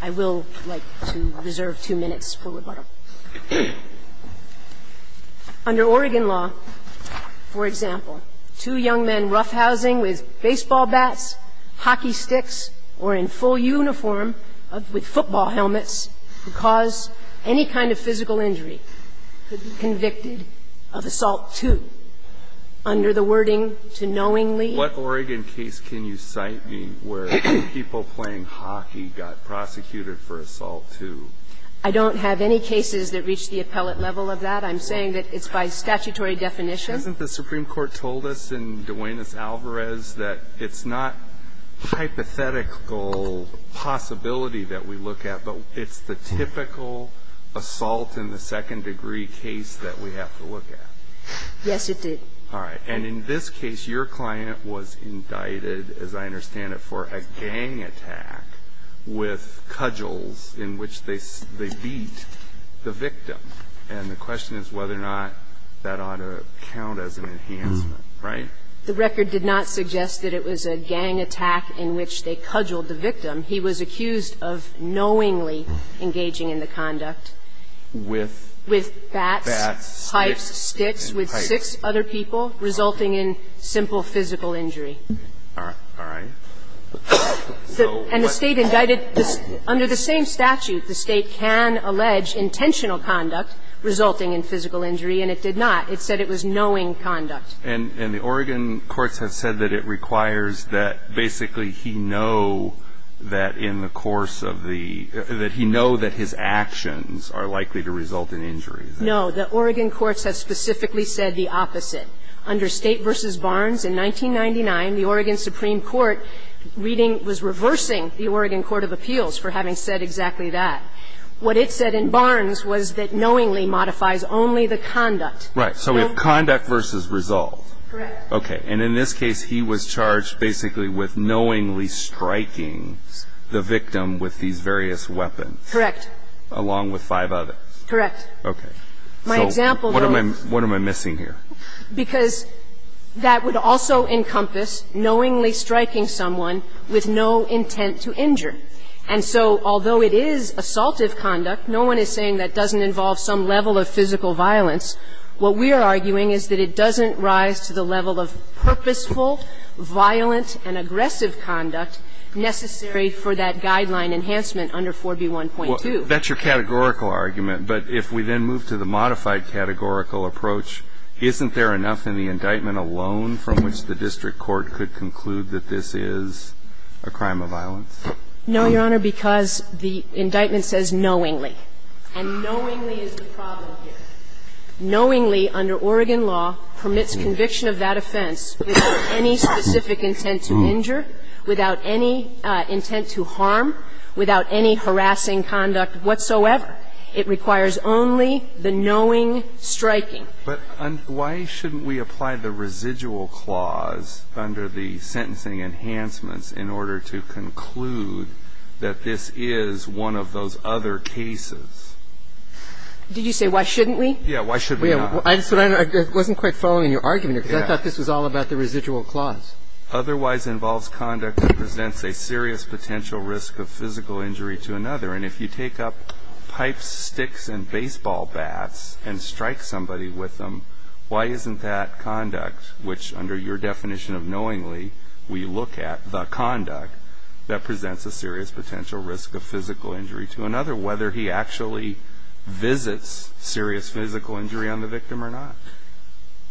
I will like to reserve two minutes for rebuttal. Under Oregon law, for example, two young men roughhousing with baseball bats, hockey sticks, or in full uniform with football helmets could cause any kind of physical injury, could be convicted of assault too. Under the wording to knowingly. What Oregon case can you cite me where people playing hockey got prosecuted for assault too? I don't have any cases that reach the appellate level of that. I'm saying that it's by statutory definition. Hasn't the Supreme Court told us in Duenes-Alvarez that it's not hypothetical possibility that we look at, but it's the typical assault in the second degree case that we have to look at? Yes, it did. All right. And in this case, your client was indicted, as I understand it, for a gang attack with cudgels in which they beat the victim. And the question is whether or not that ought to count as an enhancement, right? The record did not suggest that it was a gang attack in which they cudgeled the victim. He was accused of knowingly engaging in the conduct with bats, pipes, sticks, with six other people, resulting in simple physical injury. All right. And the State indicted under the same statute, the State can allege intentional conduct resulting in physical injury, and it did not. It said it was knowing conduct. And the Oregon courts have said that it requires that basically he know that in the course of the – that he know that his actions are likely to result in injury. No. The Oregon courts have specifically said the opposite. Under State v. Barnes in 1999, the Oregon Supreme Court reading – was reversing the Oregon court of appeals for having said exactly that. What it said in Barnes was that knowingly modifies only the conduct. Right. So we have conduct versus result. Correct. Okay. And in this case, he was charged basically with knowingly striking the victim with these various weapons. Correct. Along with five others. Correct. Okay. My example, though – What am I – what am I missing here? Because that would also encompass knowingly striking someone with no intent to injure. And so although it is assaultive conduct, no one is saying that doesn't involve some level of physical violence. What we are arguing is that it doesn't rise to the level of purposeful, violent, and aggressive conduct necessary for that guideline enhancement under 4B1.2. That's your categorical argument. But if we then move to the modified categorical approach, isn't there enough in the indictment alone from which the district court could conclude that this is a crime of violence? No, Your Honor, because the indictment says knowingly. And knowingly is the problem here. Knowingly under Oregon law permits conviction of that offense without any specific intent to injure, without any intent to harm, without any harassing conduct whatsoever. It requires only the knowing striking. But why shouldn't we apply the residual clause under the sentencing enhancements in order to conclude that this is one of those other cases? Did you say why shouldn't we? Yeah. Why shouldn't we not? I just – I wasn't quite following your argument here, because I thought this was all about the residual clause. Otherwise involves conduct that presents a serious potential risk of physical injury to another. And if you take up pipes, sticks, and baseball bats and strike somebody with them, why isn't that conduct, which under your definition of knowingly we look at, the conduct that presents a serious potential risk of physical injury to another, whether he actually visits serious physical injury on the victim or not?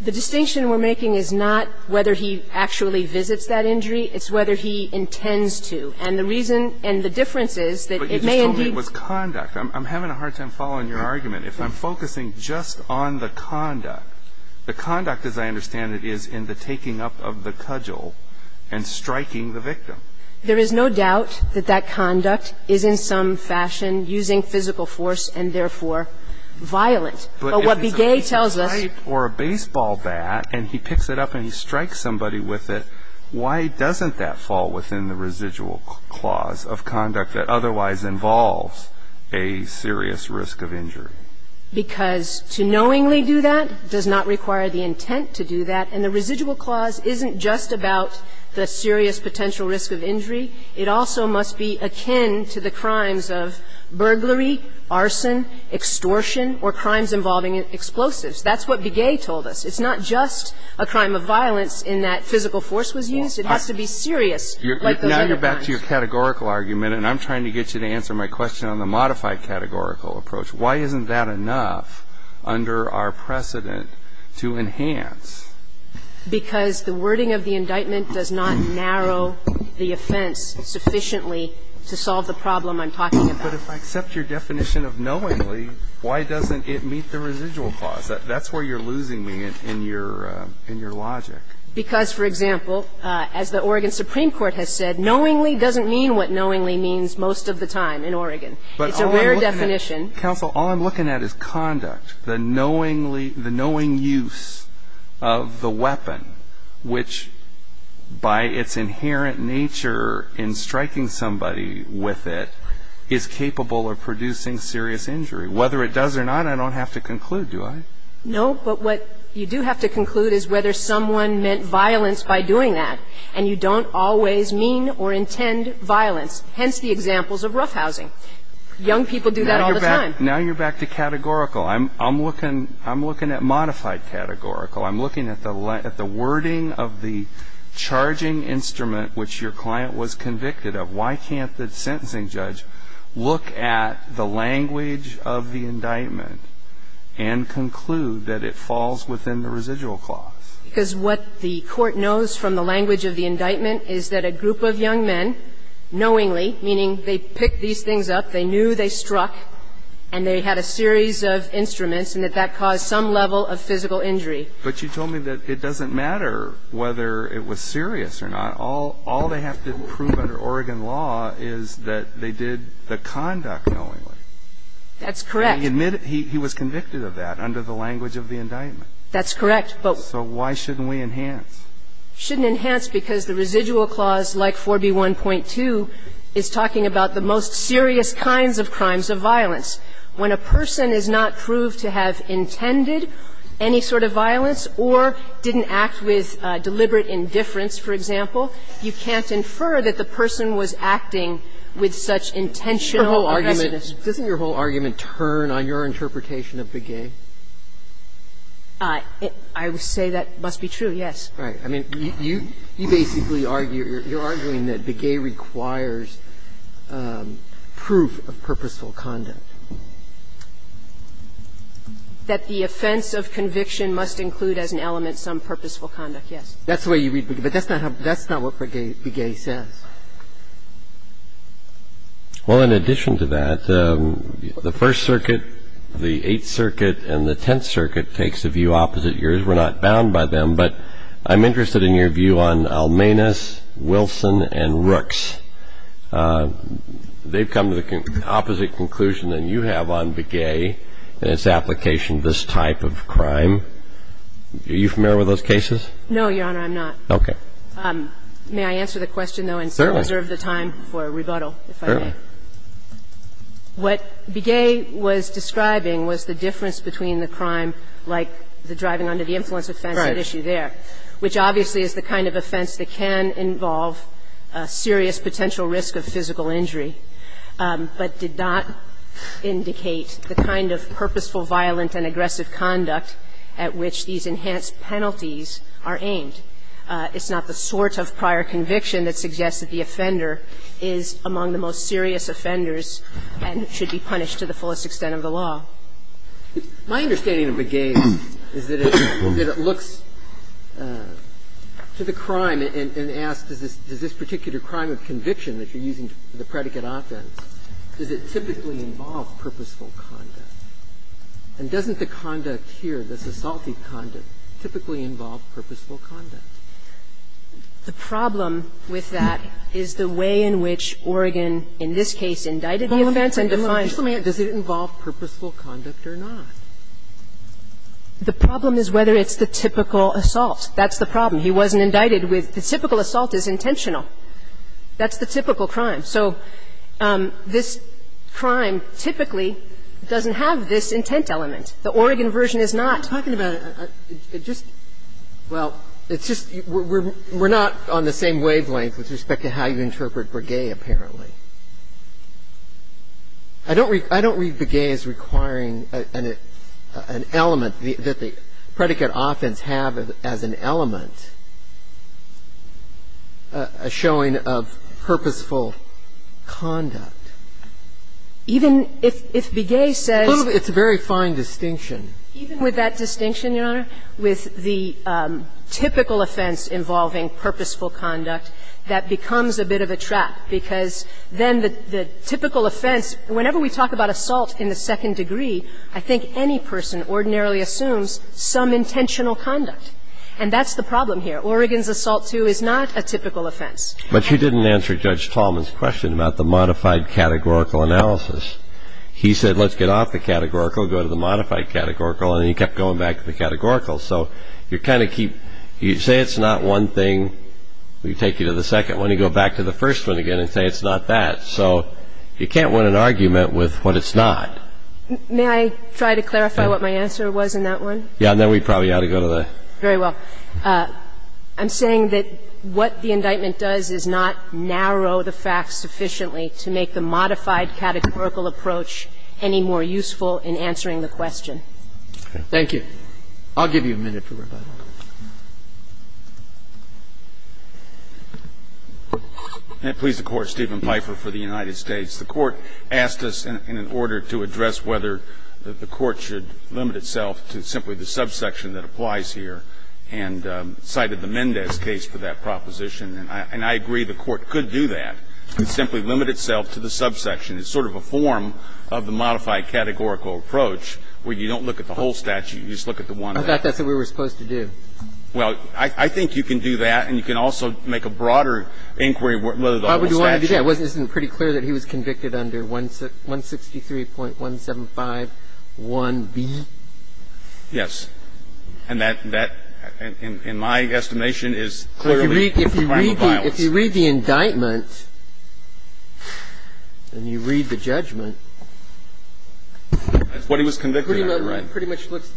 The distinction we're making is not whether he actually visits that injury. It's whether he intends to. And the reason and the difference is that it may indeed – But you just told me it was conduct. I'm having a hard time following your argument. If I'm focusing just on the conduct, the conduct, as I understand it, is in the taking up of the cudgel and striking the victim. There is no doubt that that conduct is in some fashion using physical force and, therefore, violent. But what Begay tells us – If you take up a pipe or a baseball bat and he picks it up and he strikes somebody with it, why doesn't that fall within the residual clause of conduct that otherwise involves a serious risk of injury? Because to knowingly do that does not require the intent to do that. And the residual clause isn't just about the serious potential risk of injury. It also must be akin to the crimes of burglary, arson, extortion, or crimes involving explosives. That's what Begay told us. It's not just a crime of violence in that physical force was used. It has to be serious, like those other crimes. Now you're back to your categorical argument, and I'm trying to get you to answer my question on the modified categorical approach. Why isn't that enough under our precedent to enhance? Because the wording of the indictment does not narrow the offense sufficiently to solve the problem I'm talking about. But if I accept your definition of knowingly, why doesn't it meet the residual clause? That's where you're losing me in your logic. Because, for example, as the Oregon Supreme Court has said, knowingly doesn't mean what knowingly means most of the time in Oregon. It's a rare definition. Counsel, all I'm looking at is conduct. The knowingly, the knowing use of the weapon, which by its inherent nature in striking somebody with it, is capable of producing serious injury. Whether it does or not, I don't have to conclude, do I? No. But what you do have to conclude is whether someone meant violence by doing that. And you don't always mean or intend violence, hence the examples of roughhousing. Young people do that all the time. Now you're back to categorical. I'm looking at modified categorical. I'm looking at the wording of the charging instrument which your client was convicted of. Why can't the sentencing judge look at the language of the indictment and conclude that it falls within the residual clause? Because what the court knows from the language of the indictment is that a group of young men, knowingly, meaning they picked these things up, they knew they struck, and they had a series of instruments, and that that caused some level of physical injury. But you told me that it doesn't matter whether it was serious or not. All they have to prove under Oregon law is that they did the conduct knowingly. That's correct. And he admitted he was convicted of that under the language of the indictment. That's correct. So why shouldn't we enhance? Shouldn't enhance because the residual clause, like 4b1.2, is talking about the most serious kinds of crimes of violence. When a person is not proved to have intended any sort of violence or didn't act with intent, you can't infer that the person was acting with such intentional aggressiveness. Doesn't your whole argument turn on your interpretation of Begay? I would say that must be true, yes. Right. I mean, you basically argue, you're arguing that Begay requires proof of purposeful conduct. That the offense of conviction must include as an element some purposeful conduct, yes. That's the way you read Begay, but that's not what Begay says. Well, in addition to that, the First Circuit, the Eighth Circuit, and the Tenth Circuit takes a view opposite yours. We're not bound by them, but I'm interested in your view on Almanis, Wilson, and Rooks. They've come to the opposite conclusion than you have on Begay and its application of this type of crime. Are you familiar with those cases? No, Your Honor, I'm not. Okay. May I answer the question, though, and reserve the time for rebuttal, if I may? Certainly. What Begay was describing was the difference between the crime like the driving under the influence offense at issue there, which obviously is the kind of offense that can involve a serious potential risk of physical injury, but did not indicate the kind of purposeful, violent, and aggressive conduct at which these enhanced penalties are aimed. It's not the sort of prior conviction that suggests that the offender is among the most serious offenders and should be punished to the fullest extent of the law. My understanding of Begay is that it looks to the crime and asks, does this particular crime of conviction that you're using for the predicate offense, does it typically involve purposeful conduct? And doesn't the conduct here, this assaultive conduct, typically involve purposeful conduct? The problem with that is the way in which Oregon, in this case, indicted the offense and defined it. Just let me ask, does it involve purposeful conduct or not? The problem is whether it's the typical assault. That's the problem. He wasn't indicted with the typical assault is intentional. That's the typical crime. So this crime typically doesn't have this intent element. The Oregon version is not. Sotomayor, talking about it, it just – well, it's just we're not on the same wavelength with respect to how you interpret Begay, apparently. I don't read Begay as requiring an element that the predicate offense have as an element, a showing of purposeful conduct. Even if Begay says – It's a very fine distinction. Even with that distinction, Your Honor, with the typical offense involving purposeful conduct, that becomes a bit of a trap, because then the typical offense – whenever we talk about assault in the second degree, I think any person ordinarily assumes some intentional conduct. And that's the problem here. Oregon's assault too is not a typical offense. But you didn't answer Judge Tallman's question about the modified categorical analysis. He said let's get off the categorical, go to the modified categorical, and he kept going back to the categorical. So you kind of keep – you say it's not one thing, we take you to the second one, you go back to the first one again and say it's not that. So you can't win an argument with what it's not. May I try to clarify what my answer was in that one? Yeah, and then we probably ought to go to the next one. Very well. I'm saying that what the indictment does is not narrow the facts sufficiently to make the modified categorical approach any more useful in answering the question. Thank you. I'll give you a minute for rebuttal. May it please the Court, Stephen Pfeiffer for the United States. The Court asked us in an order to address whether the Court should limit itself to simply the subsection that applies here and cited the Mendez case for that proposition. And I agree the Court could do that, could simply limit itself to the subsection. It's sort of a form of the modified categorical approach where you don't look at the whole statute, you just look at the one. I thought that's what we were supposed to do. Well, I think you can do that, and you can also make a broader inquiry, whether the whole statute. I think it's pretty clear that he was convicted under 163.175.1b. Yes. And that, in my estimation, is clearly a crime of violence. If you read the indictment and you read the judgment. That's what he was convicted under, right? It pretty much looks,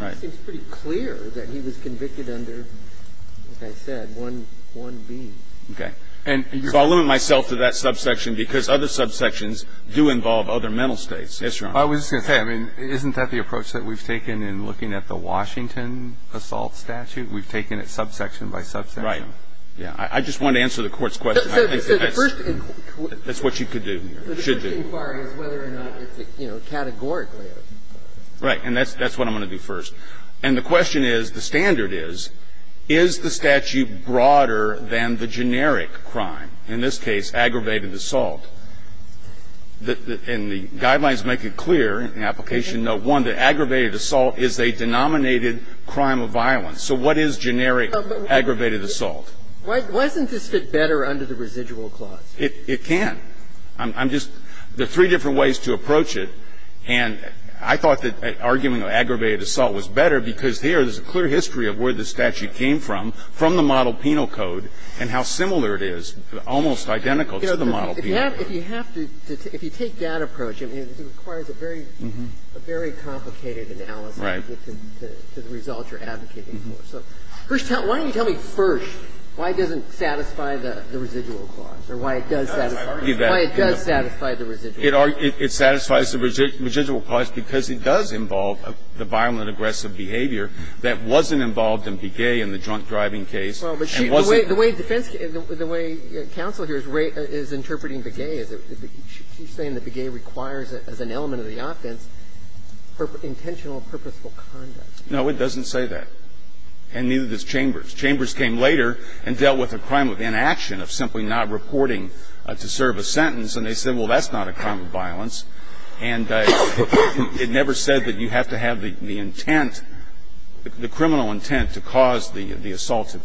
it seems pretty clear that he was convicted under, as I said, 163.175.1b. Okay. And so I'll limit myself to that subsection because other subsections do involve other mental states. Yes, Your Honor. I was just going to say, I mean, isn't that the approach that we've taken in looking at the Washington assault statute? We've taken it subsection by subsection. Right. Yeah. I just wanted to answer the Court's question. That's what you could do, should do. So the first inquiry is whether or not it's, you know, categorically a subsection. Right. And that's what I'm going to do first. And the question is, the standard is, is the statute broader than the generic crime, in this case, aggravated assault? And the guidelines make it clear in application note 1 that aggravated assault is a denominated crime of violence. So what is generic aggravated assault? Why doesn't this fit better under the residual clause? It can. I'm just, there are three different ways to approach it. And I thought that arguing of aggravated assault was better because here there's a clear history of where the statute came from, from the model penal code, and how similar it is, almost identical to the model penal code. If you have to, if you take that approach, I mean, it requires a very, a very complicated analysis to get to the results you're advocating for. So first tell me, why don't you tell me first why it doesn't satisfy the residual clause, or why it does satisfy the residual clause? It satisfies the residual clause because it does involve the violent, aggressive behavior that wasn't involved in Begay in the drunk driving case. And wasn't the way defense, the way counsel here is interpreting Begay, she's saying that Begay requires, as an element of the offense, intentional, purposeful conduct. No, it doesn't say that, and neither does Chambers. Chambers came later and dealt with a crime of inaction, of simply not reporting to serve a sentence. And they said, well, that's not a crime of violence. And it never said that you have to have the intent, the criminal intent to cause the assaultive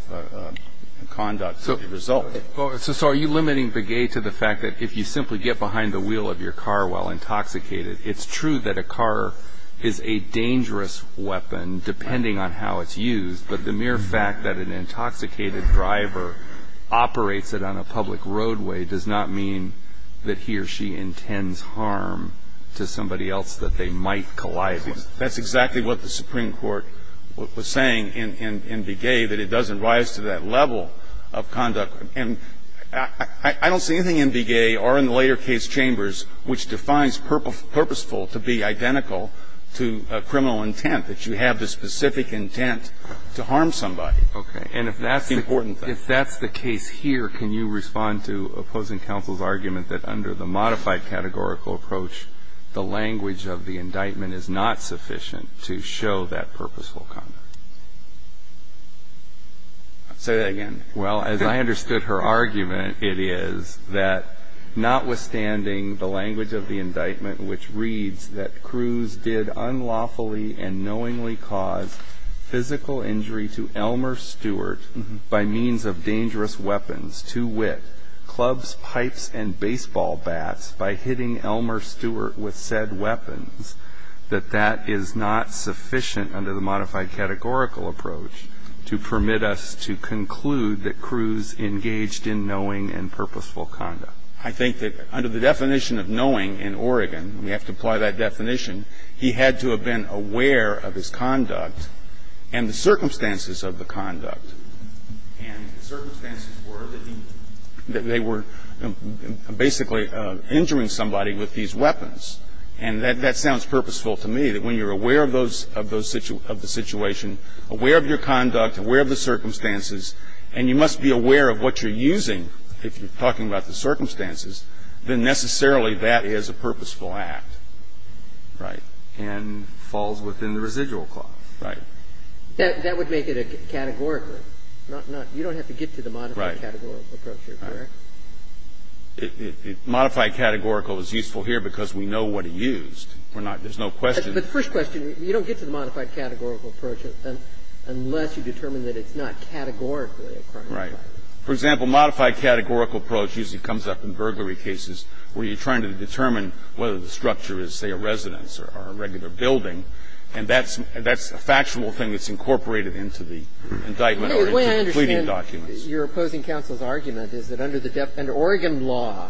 conduct as a result. So are you limiting Begay to the fact that if you simply get behind the wheel of your car while intoxicated, it's true that a car is a dangerous weapon, depending on how it's used, but the mere fact that an intoxicated driver operates it on a public roadway does not mean that he or she intends harm to somebody else that they might collide with. That's exactly what the Supreme Court was saying in Begay, that it doesn't rise to that level of conduct. And I don't see anything in Begay or in the later case, Chambers, which defines purposeful to be identical to a criminal intent, that you have the specific intent to harm somebody. Okay. And if that's the important thing. Here, can you respond to opposing counsel's argument that under the modified categorical approach, the language of the indictment is not sufficient to show that purposeful conduct? Say that again. Well, as I understood her argument, it is that notwithstanding the language of the indictment, which reads that Cruz did unlawfully and knowingly cause physical injury to Elmer Stewart by means of dangerous weapons, to wit, clubs, pipes, and baseball bats by hitting Elmer Stewart with said weapons, that that is not sufficient under the modified categorical approach to permit us to conclude that Cruz engaged in knowing and purposeful conduct. I think that under the definition of knowing in Oregon, we have to apply that definition, that under the definition of knowing in Oregon, he had to have been aware of his conduct and the circumstances of the conduct. And the circumstances were that he – that they were basically injuring somebody with these weapons. And that sounds purposeful to me, that when you're aware of those – of the situation, aware of your conduct, aware of the circumstances, and you must be aware of what you're And falls within the residual clause. Right. That would make it a categorical. Not – you don't have to get to the modified categorical approach here, correct? Right. Modified categorical is useful here because we know what he used. We're not – there's no question. But the first question, you don't get to the modified categorical approach unless you determine that it's not categorically a crime of violence. Right. For example, modified categorical approach usually comes up in burglary cases where you're trying to determine whether the structure is, say, a residence or a regular building, and that's – that's a factual thing that's incorporated into the indictment or into the pleading documents. The way I understand your opposing counsel's argument is that under the – under Oregon law,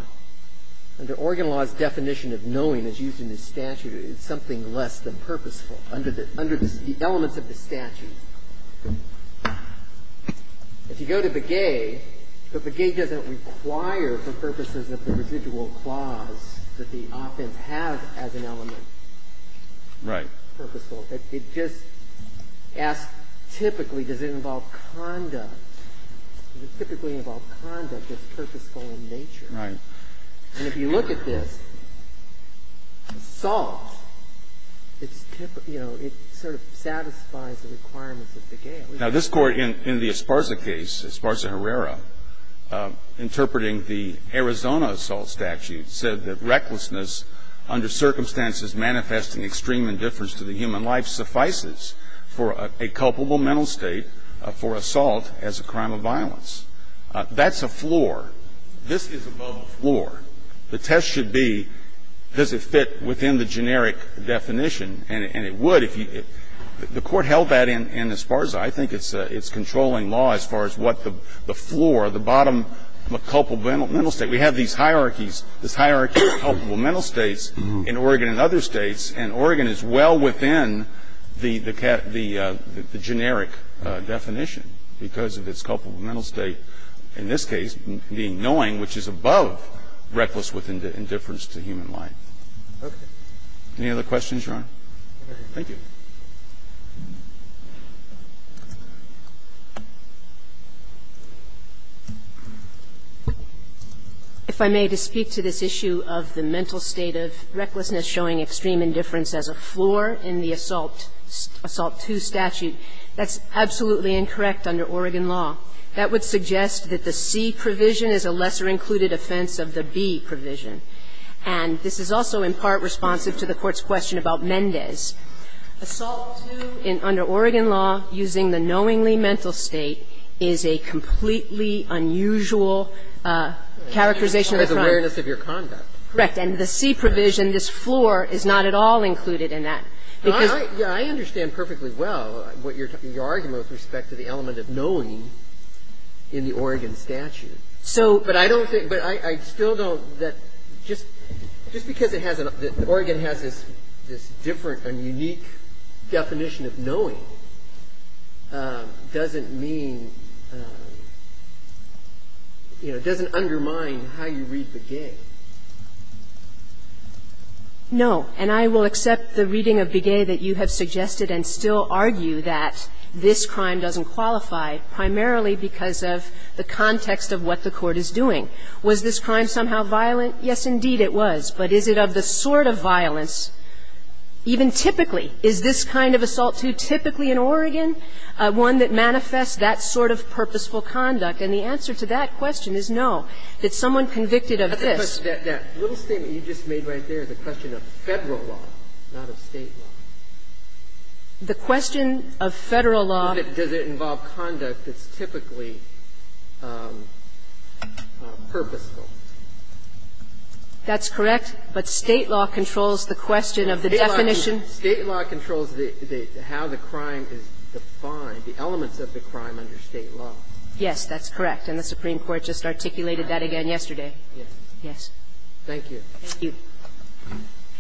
under Oregon law's definition of knowing as used in the statute, it's something less than purposeful under the – under the elements of the statute. If you go to Begay, but Begay doesn't require for purposes of the residual clause that the offense has as an element. Right. Purposeful. It just asks typically does it involve conduct. Does it typically involve conduct that's purposeful in nature? Right. And if you look at this, assault, it's – you know, it sort of satisfies the requirements of Begay. Now, this Court in the Esparza case, Esparza-Herrera, interpreting the Arizona assault statute, said that recklessness under circumstances manifesting extreme indifference to the human life suffices for a culpable mental state for assault as a crime of violence. That's a floor. This is above the floor. The test should be does it fit within the generic definition, and it would. If you – the Court held that in Esparza. I think it's controlling law as far as what the floor, the bottom culpable mental state. We have these hierarchies, this hierarchy of culpable mental states in Oregon and other states, and Oregon is well within the generic definition because of its culpable mental state, in this case, being knowing, which is above reckless indifference to human life. Any other questions, Your Honor? Thank you. If I may, to speak to this issue of the mental state of recklessness showing extreme indifference as a floor in the Assault II statute, that's absolutely incorrect under Oregon law. That would suggest that the C provision is a lesser-included offense of the B provision. And this is also in part responsive to the Court's question about Mendez. Assault II under Oregon law, using the knowingly mental state, is a completely unusual characterization of the crime. Because of awareness of your conduct. Correct. And the C provision, this floor, is not at all included in that. Because your argument with respect to the element of knowing in the Oregon statute. But I don't think – but I still don't – just because it has – Oregon has this different and unique definition of knowing, doesn't mean, you know, it doesn't undermine how you read Begay. No. And I will accept the reading of Begay that you have suggested and still argue that this crime doesn't qualify primarily because of the context of what the Court is doing. Was this crime somehow violent? Yes, indeed, it was. But is it of the sort of violence, even typically, is this kind of assault II typically in Oregon, one that manifests that sort of purposeful conduct? And the answer to that question is no, that someone convicted of this. That little statement you just made right there, the question of Federal law, not of State law. The question of Federal law. Does it involve conduct that's typically purposeful? That's correct. But State law controls the question of the definition. State law controls the – how the crime is defined, the elements of the crime under State law. Yes, that's correct. And the Supreme Court just articulated that again yesterday. Yes. Thank you. Thank you.